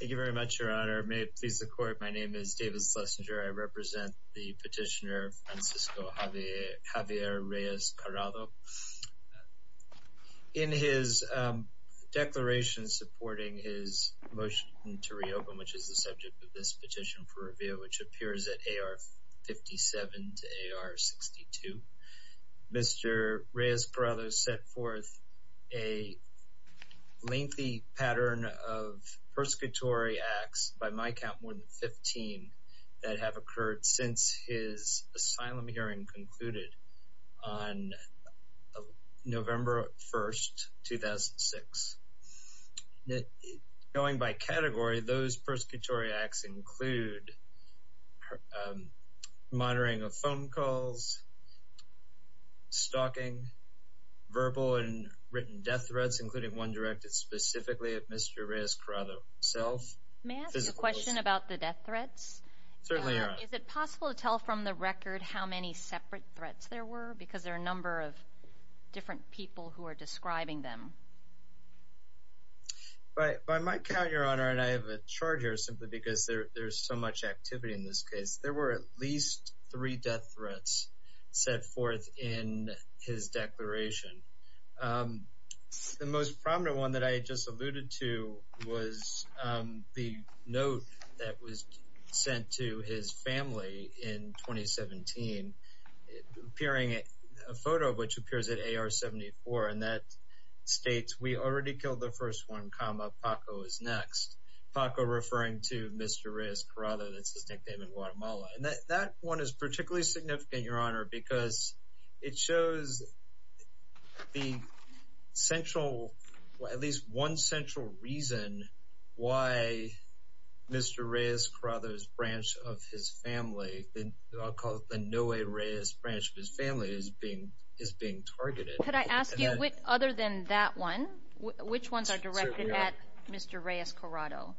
Thank you very much, Your Honor. May it please the Court, my name is David Schlesinger. I represent the petitioner Francisco Javier Reyes-Corado. In his declaration supporting his motion to reopen, which is the subject of this petition for review, which appears at AR 57 to AR 62, Mr. Reyes-Corado set forth a lengthy pattern of persecutory acts, by my count more than 15, that have occurred since his asylum hearing concluded on November 1, 2006. Going by category, those persecutory acts include monitoring of phone calls, stalking, verbal and one directed specifically at Mr. Reyes-Corado himself. May I ask a question about the death threats? Certainly, Your Honor. Is it possible to tell from the record how many separate threats there were, because there are a number of different people who are describing them? By my count, Your Honor, and I have a charge here simply because there's so much activity in this case, there were at least three death threats. The most prominent one that I just alluded to was the note that was sent to his family in 2017, appearing in a photo which appears at AR 74, and that states, we already killed the first one, comma, Paco is next. Paco referring to Mr. Reyes-Corado, that's his nickname in Guatemala. And that one is particularly significant, Your Honor. It shows the central, at least one central reason why Mr. Reyes-Corado's branch of his family, I'll call it the Noe Reyes branch of his family, is being targeted. Could I ask you, other than that one, which ones are directed at Mr. Reyes-Corado?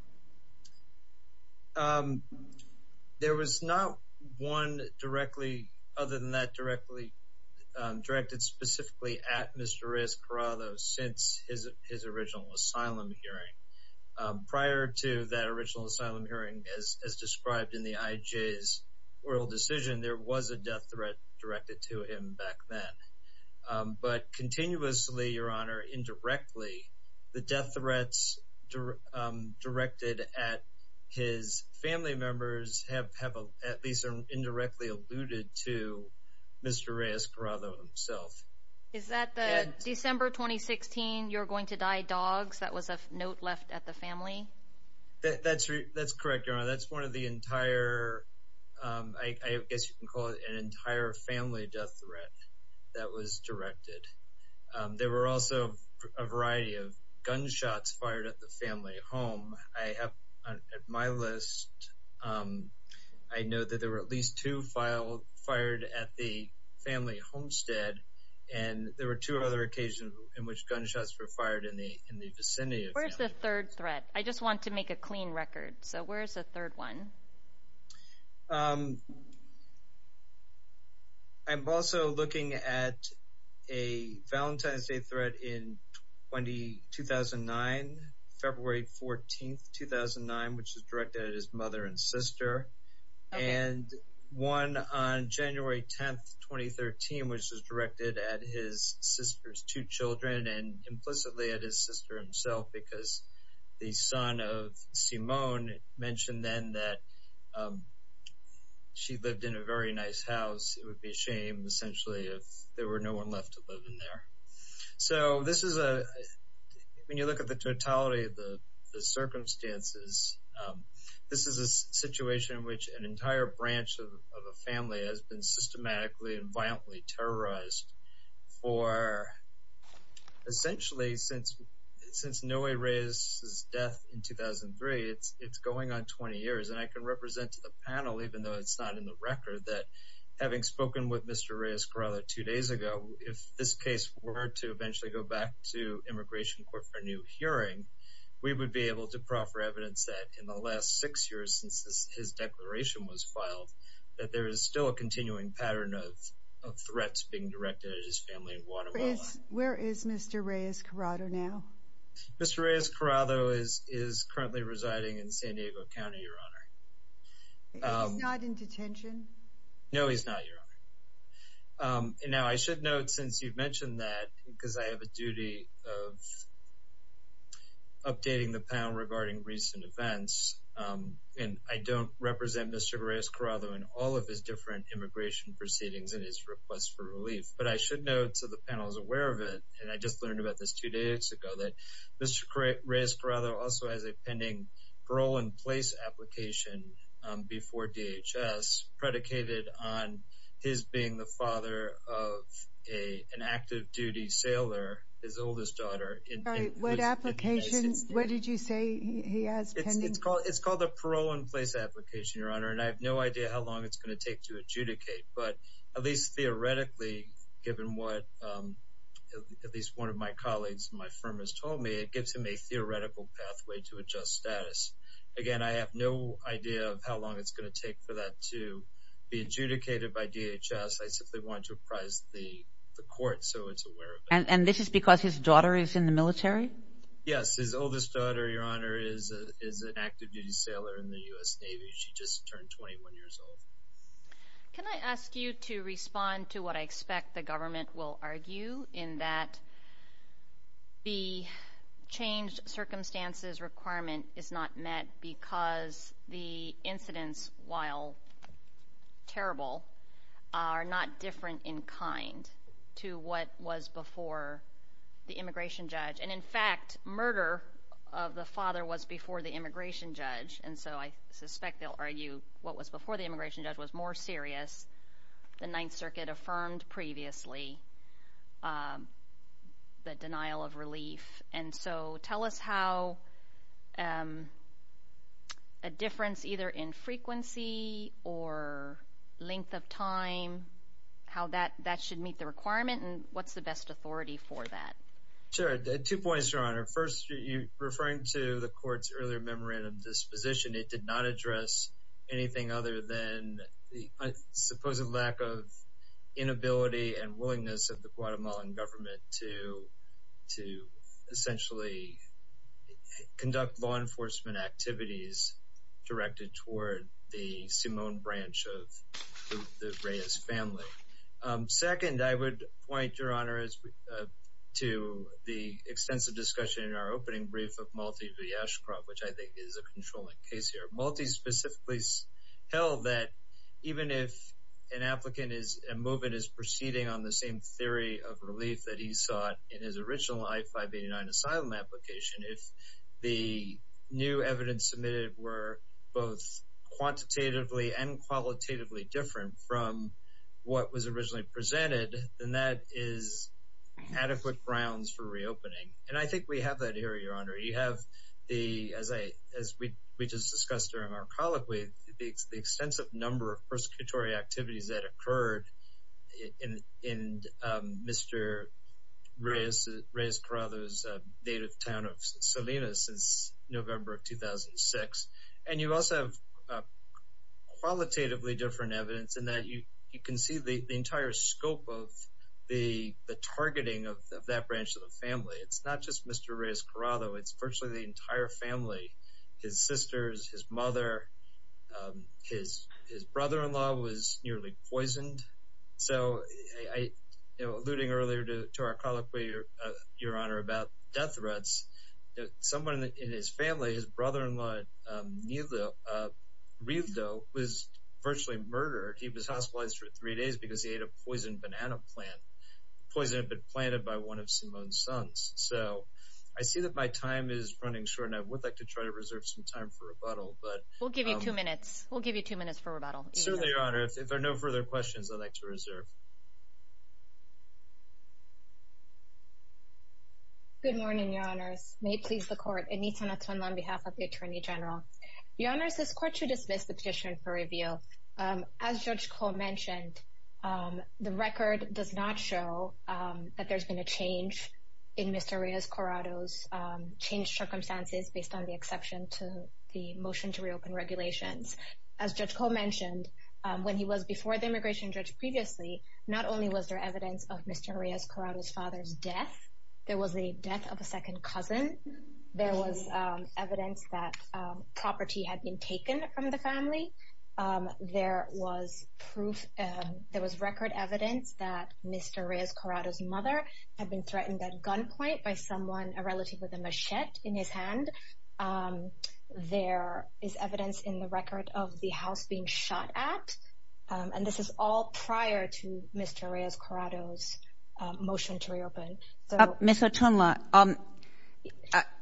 There was not one directly, other than that, directly directed specifically at Mr. Reyes-Corado since his original asylum hearing. Prior to that original asylum hearing, as described in the IJ's oral decision, there was a death threat directed to him back then. But continuously, Your Honor, indirectly, the death threats directed at his family members have at least indirectly alluded to Mr. Reyes-Corado himself. Is that the December 2016, you're going to die dogs, that was a note left at the family? That's correct, Your Honor. That's one of the entire, I guess you can call it an entire family death threat that was directed. There were also a variety of gunshots fired at the family home. I have, at my list, I know that there were at least two fired at the family homestead. And there were two other occasions in which gunshots were fired in the vicinity of the family homestead. Where's the third threat? I just want to make a clean record. So where's the third one? I'm also looking at a Valentine's Day threat in 2009, February 14, 2009, which was directed at his mother and sister. And one on January 10, 2013, which was directed at his sister's two children and implicitly at his sister himself, because the son of Simone mentioned then that she lived in a very nice house. It would be a shame, essentially, if there were no one left to live in there. So this is a, when you look at the totality of the circumstances, this is a situation in which an entire branch of a family has been systematically and violently terrorized for, essentially, since, since Noe Reyes' death in 2003, it's going on 20 years. And I can represent to the panel, even though it's not in the record, that having spoken with Mr. Reyes Corrales two days ago, if this case were to eventually go back to Immigration Court for a new hearing, we would be able to proffer evidence that in the last six years since his declaration was filed, that there is still a continuing pattern of threats being directed at his family in Guatemala. Where is Mr. Reyes Corrales now? Mr. Reyes Corrales is currently residing in San Diego County, Your Honor. He's not in detention? No, he's not, Your Honor. And now I should note, since you've mentioned that, because I have a duty of updating the panel regarding recent events, and I don't represent Mr. Reyes Corrales in all of his different immigration proceedings and his request for relief. But I should note, so the panel is aware of it, and I just learned about this two days ago, that Mr. Reyes Corrales also has a pending parole-in-place application before DHS predicated on his being the father of an active-duty sailor, his oldest daughter. What application? What did you say he has pending? It's called a parole-in-place application, Your Honor. And I have no idea how long it's going to take to adjudicate. But at least theoretically, given what at least one of my colleagues in my firm has told me, it gives him a theoretical pathway to adjust status. Again, I have no idea of how long it's going to take for that to be adjudicated by DHS. I simply want to apprise the court so it's aware of it. And this is because his daughter is in the military? Yes, his oldest daughter, Your Honor, is an active-duty sailor in the U.S. Navy. She just turned 21 years old. Can I ask you to respond to what I expect the government will argue in that the changed circumstances requirement is not met because the incidents, while terrible, are not different in kind to what was before the immigration judge? And in fact, murder of the father was before the immigration judge. And so I suspect they'll argue what was before the immigration judge was more serious. The Ninth Circuit affirmed previously the denial of relief. And so tell us how a difference either in frequency or length of time, how that should meet the requirement and what's the best authority for that? Sure. Two points, Your Honor. First, referring to the court's earlier memorandum disposition, it did not address anything other than the supposed lack of inability and willingness of the Guatemalan government to essentially conduct law enforcement activities directed toward the Simón branch of the Reyes family. Second, I would point, Your Honor, to the extensive discussion in our opening brief of Malti V. Ashcroft, which I think is a controlling case here. Malti specifically held that even if an applicant is, a movement is proceeding on the same theory of relief that he sought in his original I-589 asylum application, if the new evidence submitted were both quantitatively and qualitatively different from what was originally presented, then that is adequate grounds for reopening. And I think we have that here, Your Honor. You have the, as we just discussed during our colloquy, the extensive number of persecutory activities that occurred in Mr. Reyes Corraldo's native town of Salinas since November of 2006, and you also have qualitatively different evidence in that you can see the entire scope of the targeting of that branch of the family. It's not just Mr. Reyes Corraldo, it's virtually the entire family, his sisters, his mother, his brother-in-law was nearly poisoned. So, alluding earlier to our colloquy, Your Honor, about death threats, someone in his family, his brother-in-law, Rildo, was virtually murdered. He was hospitalized for three days because he ate a poisoned banana plant, poison had been planted by one of Simone's sons. So, I see that my time is running short and I would like to try to reserve some time for rebuttal, but- We'll give you two minutes. We'll give you two minutes for rebuttal. Certainly, Your Honor. If there are no further questions, I'd like to reserve. Good morning, Your Honors. May it please the Court. Anita Natun on behalf of the Attorney General. Your Honors, this Court should dismiss the petition for review. As Judge Koh mentioned, the record does not show that there's been a change in Mr. Reyes Corraldo's changed circumstances based on the exception to the motion to reopen regulations. As Judge Koh mentioned, when he was before the immigration judge previously, not only was there evidence of Mr. Reyes Corraldo's father's death, there was the death of a second cousin. There was evidence that property had been taken from the family. There was proof, there was record evidence that Mr. Reyes Corraldo's mother had been threatened at gunpoint by someone, a relative with a machete in his hand. There is evidence in the record of the house being shot at, and this is all prior to Mr. Reyes Corraldo's motion to reopen. Ms. Otunla,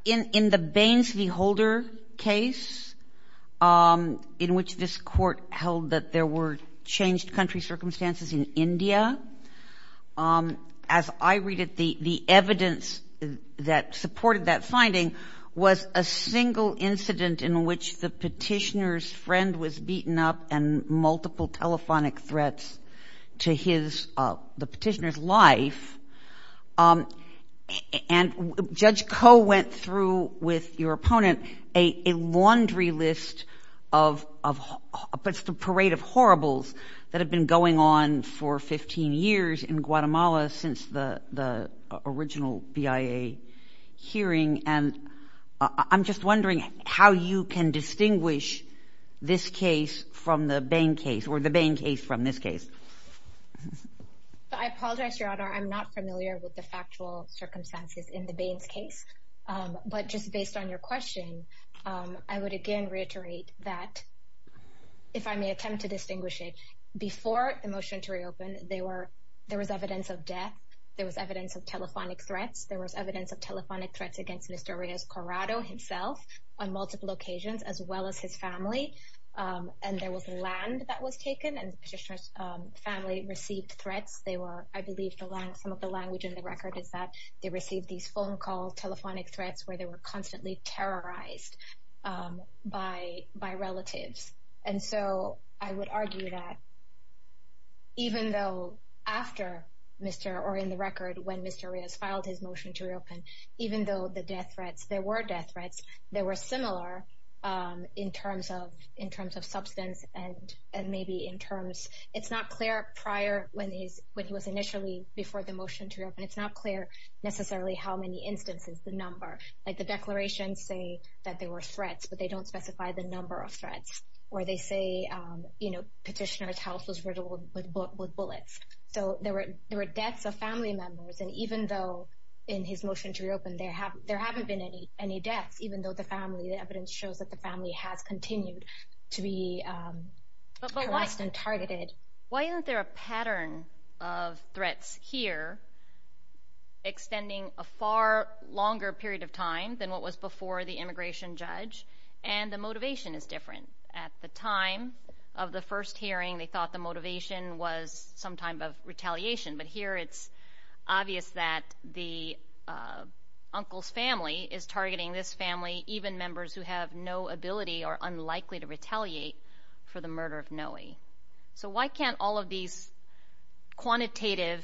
in the Bains v. Holder case, in which this Court held that there were changed country circumstances in India, as I read it, the evidence that supported that finding was a single incident in which the petitioner's friend was beaten up and multiple telephonic threats to the petitioner's life. And Judge Koh went through with your opponent a laundry list of parades of horribles that have been going on for 15 years in Guatemala since the original BIA hearing. And I'm just wondering how you can distinguish this case from the Bains case, or the Bains case from this case. I apologize, Your Honor, I'm not familiar with the factual circumstances in the Bains case. But just based on your question, I would again reiterate that, if I may attempt to distinguish it, before the motion to reopen, there was evidence of death, there was evidence of telephonic threats, there was evidence of telephonic threats against Mr. Reyes Corraldo himself on multiple occasions, as well as his family, and there was land that was taken, and the petitioner's family received threats. They were, I believe, some of the language in the record is that they received these phone calls, telephonic threats, where they were constantly terrorized by relatives. And so I would argue that, even though after Mr., or in the record, when Mr. Reyes filed his motion to reopen, even though the death threats, there were death threats, they were similar in terms of substance, and maybe in terms, it's not clear prior, when he was initially, before the motion to reopen, it's not clear necessarily how many instances, the number. Like the declarations say that there were threats, but they don't specify the number of threats. Or they say, you know, petitioner's house was riddled with bullets. So there were deaths of family members, and even though, in his motion to reopen, there haven't been any deaths, even though the family, the evidence shows that the family has continued to be harassed and targeted. Why isn't there a pattern of threats here, extending a far longer period of time than what was before the immigration judge, and the motivation is different? At the time of the first hearing, they thought the motivation was some type of retaliation. But here, it's obvious that the uncle's family is targeting this family, even members who have no ability or unlikely to retaliate for the murder of Noe. So why can't all of these quantitative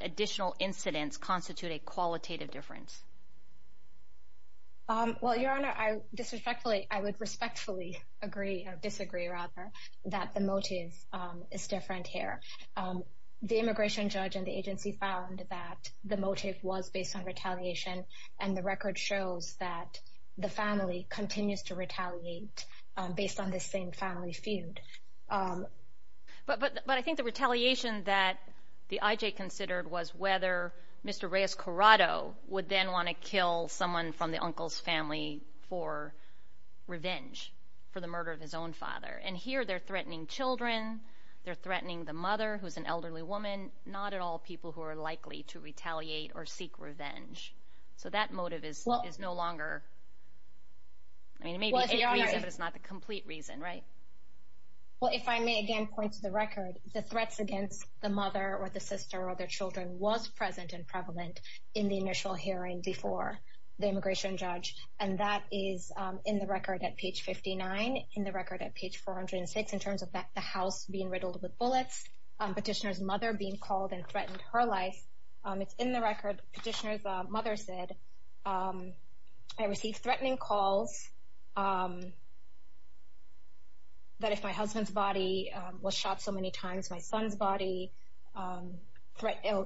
additional incidents constitute a qualitative difference? Well, Your Honor, I disrespectfully, I would respectfully agree, or disagree rather, that the motive is different here. The immigration judge and the agency found that the motive was based on retaliation, and the record shows that the family continues to retaliate based on this same family feud. But I think the retaliation that the IJ considered was whether Mr. Reyes-Corrado would then want to kill someone from the uncle's family for revenge, for the murder of his own father. And here, they're threatening children, they're threatening the mother, who's an elderly woman, not at all people who are likely to retaliate or seek revenge. So that motive is no longer, I mean, it may be a reason, but it's not the complete reason, right? Well, if I may again point to the record, the threats against the mother or the sister or their children was present and prevalent in the initial hearing before the immigration judge. And that is in the record at page 59, in the record at page 406, in terms of the house being riddled with bullets, petitioner's mother being called and threatened her life. It's in the record, petitioner's mother said, I received threatening calls that if my husband's body was shot so many times, my son's body,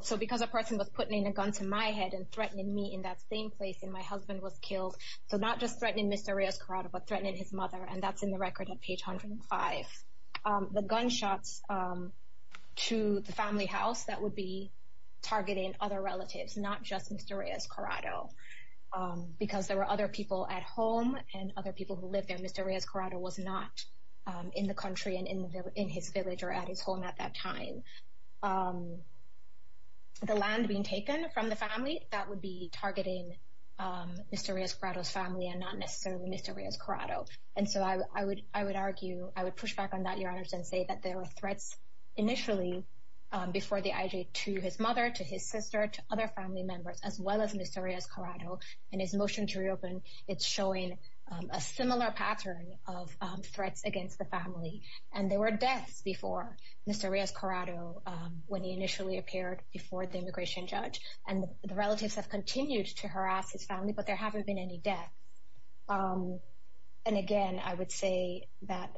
so because a person was putting a gun to my head and threatening me in that same place, and my husband was killed. So not just threatening Mr. Reyes-Corrado, but threatening his mother, and that's in the record at page 105. The gunshots to the family house, that would be targeting other relatives, not just Mr. Reyes-Corrado. Because there were other people at home and other people who lived there, Mr. Reyes-Corrado was not in the country and in his village or at his home at that time. The land being taken from the family, that would be targeting Mr. Reyes-Corrado's family and not necessarily Mr. Reyes-Corrado. And so I would argue, I would push back on that, Your Honor, and say that there were threats initially before the IJ to his mother, to his sister, to other family members, as well as Mr. Reyes-Corrado. And his motion to reopen, it's showing a similar pattern of threats against the family. And there were deaths before Mr. Reyes-Corrado when he initially appeared before the immigration judge. And the relatives have continued to harass his family, but there haven't been any deaths. And again, I would say that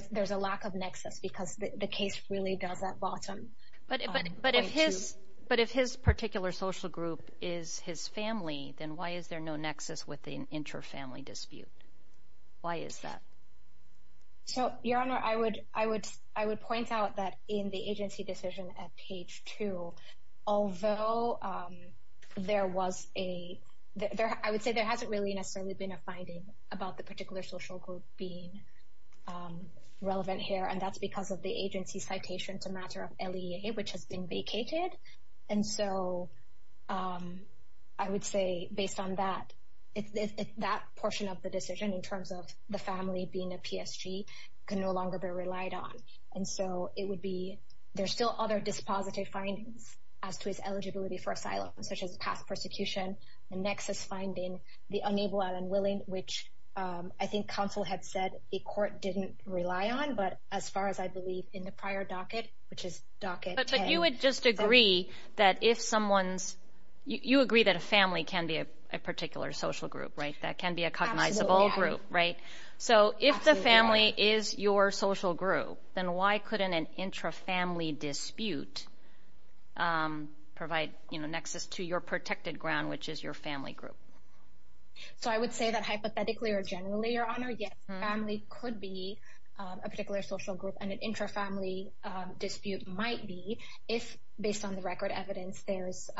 there's a lack of nexus, because the case really does that bottom point to. But if his particular social group is his family, then why is there no nexus with the inter-family dispute? Why is that? So, Your Honor, I would point out that in the agency decision at page 2, although there was a, I would say there hasn't really necessarily been a finding about the particular social group being relevant here. And that's because of the agency citation to matter of LEA, which has been vacated. And so I would say based on that, that portion of the decision in terms of the family being a PSG can no longer be relied on. And so it would be, there's still other dispositive findings as to his eligibility for asylum, such as past persecution, the nexus finding, the unable and unwilling, which I think counsel had said the court didn't rely on. But as far as I believe in the prior docket, which is docket A. But you would just agree that if someone's, you agree that a family can be a particular social group, right? That can be a cognizable group, right? So if the family is your social group, then why couldn't an intra-family dispute provide, you know, nexus to your protected ground, which is your family group? So I would say that hypothetically or generally, Your Honor, yes, family could be a particular social group. And an intra-family dispute might be if based on the record evidence, there's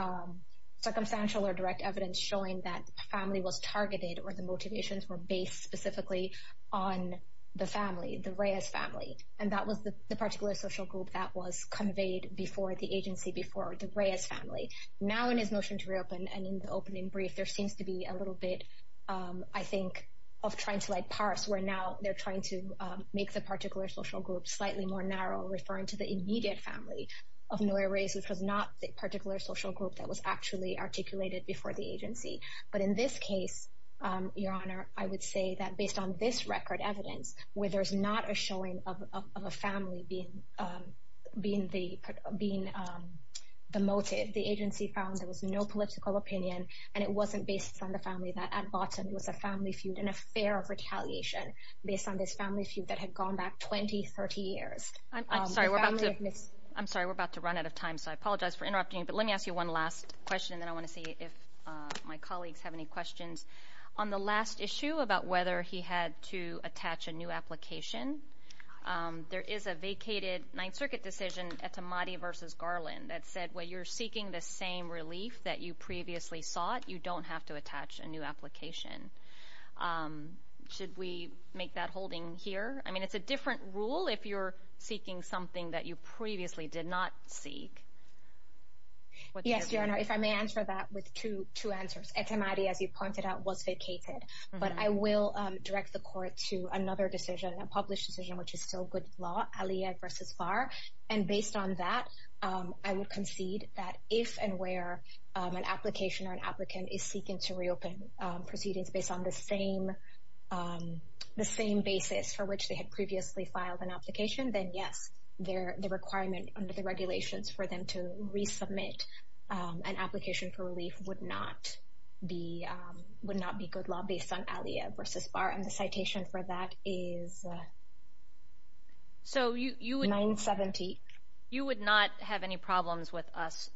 circumstantial or direct evidence showing that family was targeted or the motivations were based specifically on the family, the Reyes family. And that was the particular social group that was conveyed before the agency, before the Reyes family. Now, in his motion to reopen and in the opening brief, there seems to be a little bit, I think, of trying to like parse, where now they're trying to make the particular social group slightly more narrow, referring to the immediate family of Noir Reyes, which was not the particular social group that was actually articulated before the agency. But in this case, Your Honor, I would say that based on this record evidence, where there's not a showing of a family being the motive, the agency found there was no political opinion and it wasn't based on the family. That at bottom, it was a family feud and a fear of retaliation based on this family feud that had gone back 20, 30 years. I'm sorry, we're about to run out of time, so I apologize for interrupting you. But let me ask you one last question and then I want to see if my colleagues have any questions. On the last issue about whether he had to attach a new application, there is a vacated Ninth Circuit decision, Etemadi v. Garland, that said, well, you're seeking the same relief that you previously sought. You don't have to attach a new application. Should we make that holding here? It's a different rule if you're seeking something that you previously did not seek. Yes, Your Honor, if I may answer that with two answers. Etemadi, as you pointed out, was vacated. But I will direct the court to another decision, a published decision, which is still good law, Aliyev v. Barr. And based on that, I would concede that if and where an application or an applicant is seeking to reopen proceedings based on the same basis for which they had previously filed an application, then yes, the requirement under the regulations for them to resubmit an application for relief would not be good law based on Aliyev v. Barr. And the citation for that is 970. You would not have any problems with us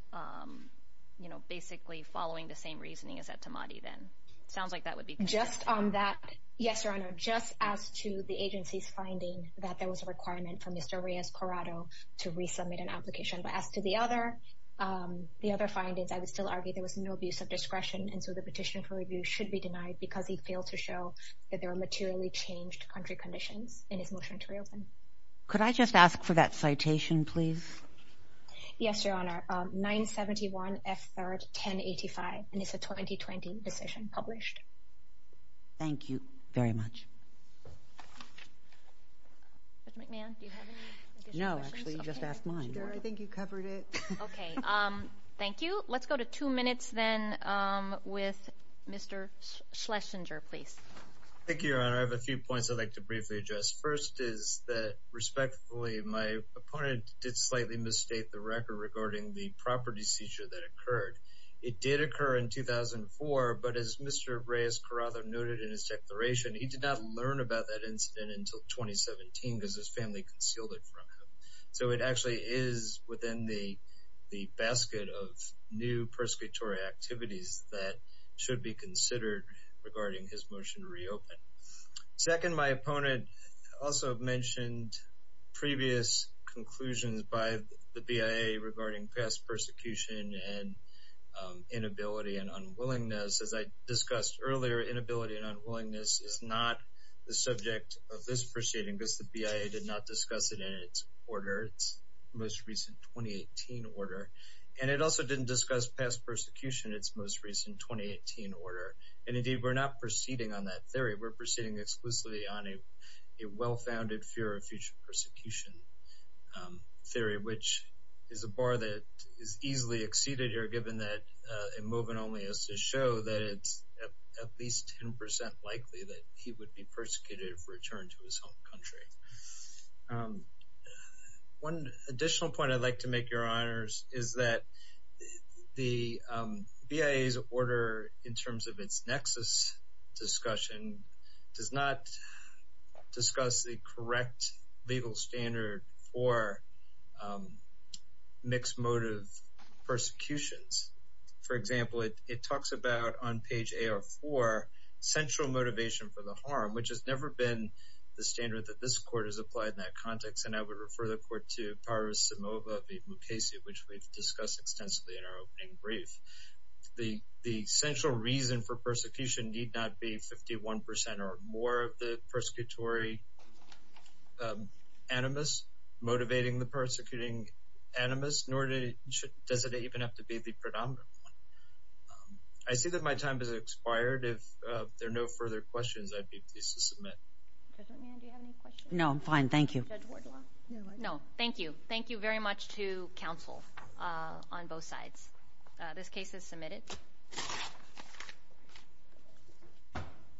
basically following the same reasoning as Etemadi then? Sounds like that would be good. Just on that, yes, Your Honor. Just as to the agency's finding that there was a requirement for Mr. Reyes-Corrado to resubmit an application. But as to the other findings, I would still argue there was no abuse of discretion. And so the petition for review should be denied because he failed to show that there were materially changed country conditions in his motion to reopen. Could I just ask for that citation, please? Yes, Your Honor. 971 F. 3rd, 1085. And it's a 2020 petition published. Thank you very much. Judge McMahon, do you have any additional questions? No, actually, you just asked mine. I think you covered it. Okay, thank you. Let's go to two minutes then with Mr. Schlesinger, please. Thank you, Your Honor. I have a few points I'd like to briefly address. First is that respectfully, my opponent did slightly misstate the record the property seizure that occurred. It did occur in 2004, but as Mr. Reyes-Corrado noted in his declaration, he did not learn about that incident until 2017 because his family concealed it from him. So it actually is within the basket of new persecutory activities Second, my opponent also mentioned previous conclusions by the BIA regarding past persecution and inability and unwillingness. As I discussed earlier, inability and unwillingness is not the subject of this proceeding because the BIA did not discuss it in its order, its most recent 2018 order. And it also didn't discuss past persecution, its most recent 2018 order. And indeed, we're not proceeding on that theory. We're proceeding exclusively on a well-founded fear of future persecution theory, which is a bar that is easily exceeded here, given that a movement only is to show that it's at least 10% likely that he would be persecuted if returned to his home country. One additional point I'd like to make, Your Honors, is that the BIA's order in terms of its nexus discussion does not discuss the correct legal standard for mixed motive persecutions. For example, it talks about on page AR4, central motivation for the harm, which has never been the standard that this Court has applied in that context. And I would refer the Court to Paros Simova v. Mukasey, which we've discussed extensively in our opening brief. The central reason for persecution need not be 51% or more of the persecutory animus motivating the persecuting animus, nor does it even have to be the predominant one. I see that my time has expired. If there are no further questions, I'd be pleased to submit. Judge McMahon, do you have any questions? No, I'm fine. Thank you. Judge Wardlaw? No, thank you. Thank you very much to counsel on both sides. This case is submitted.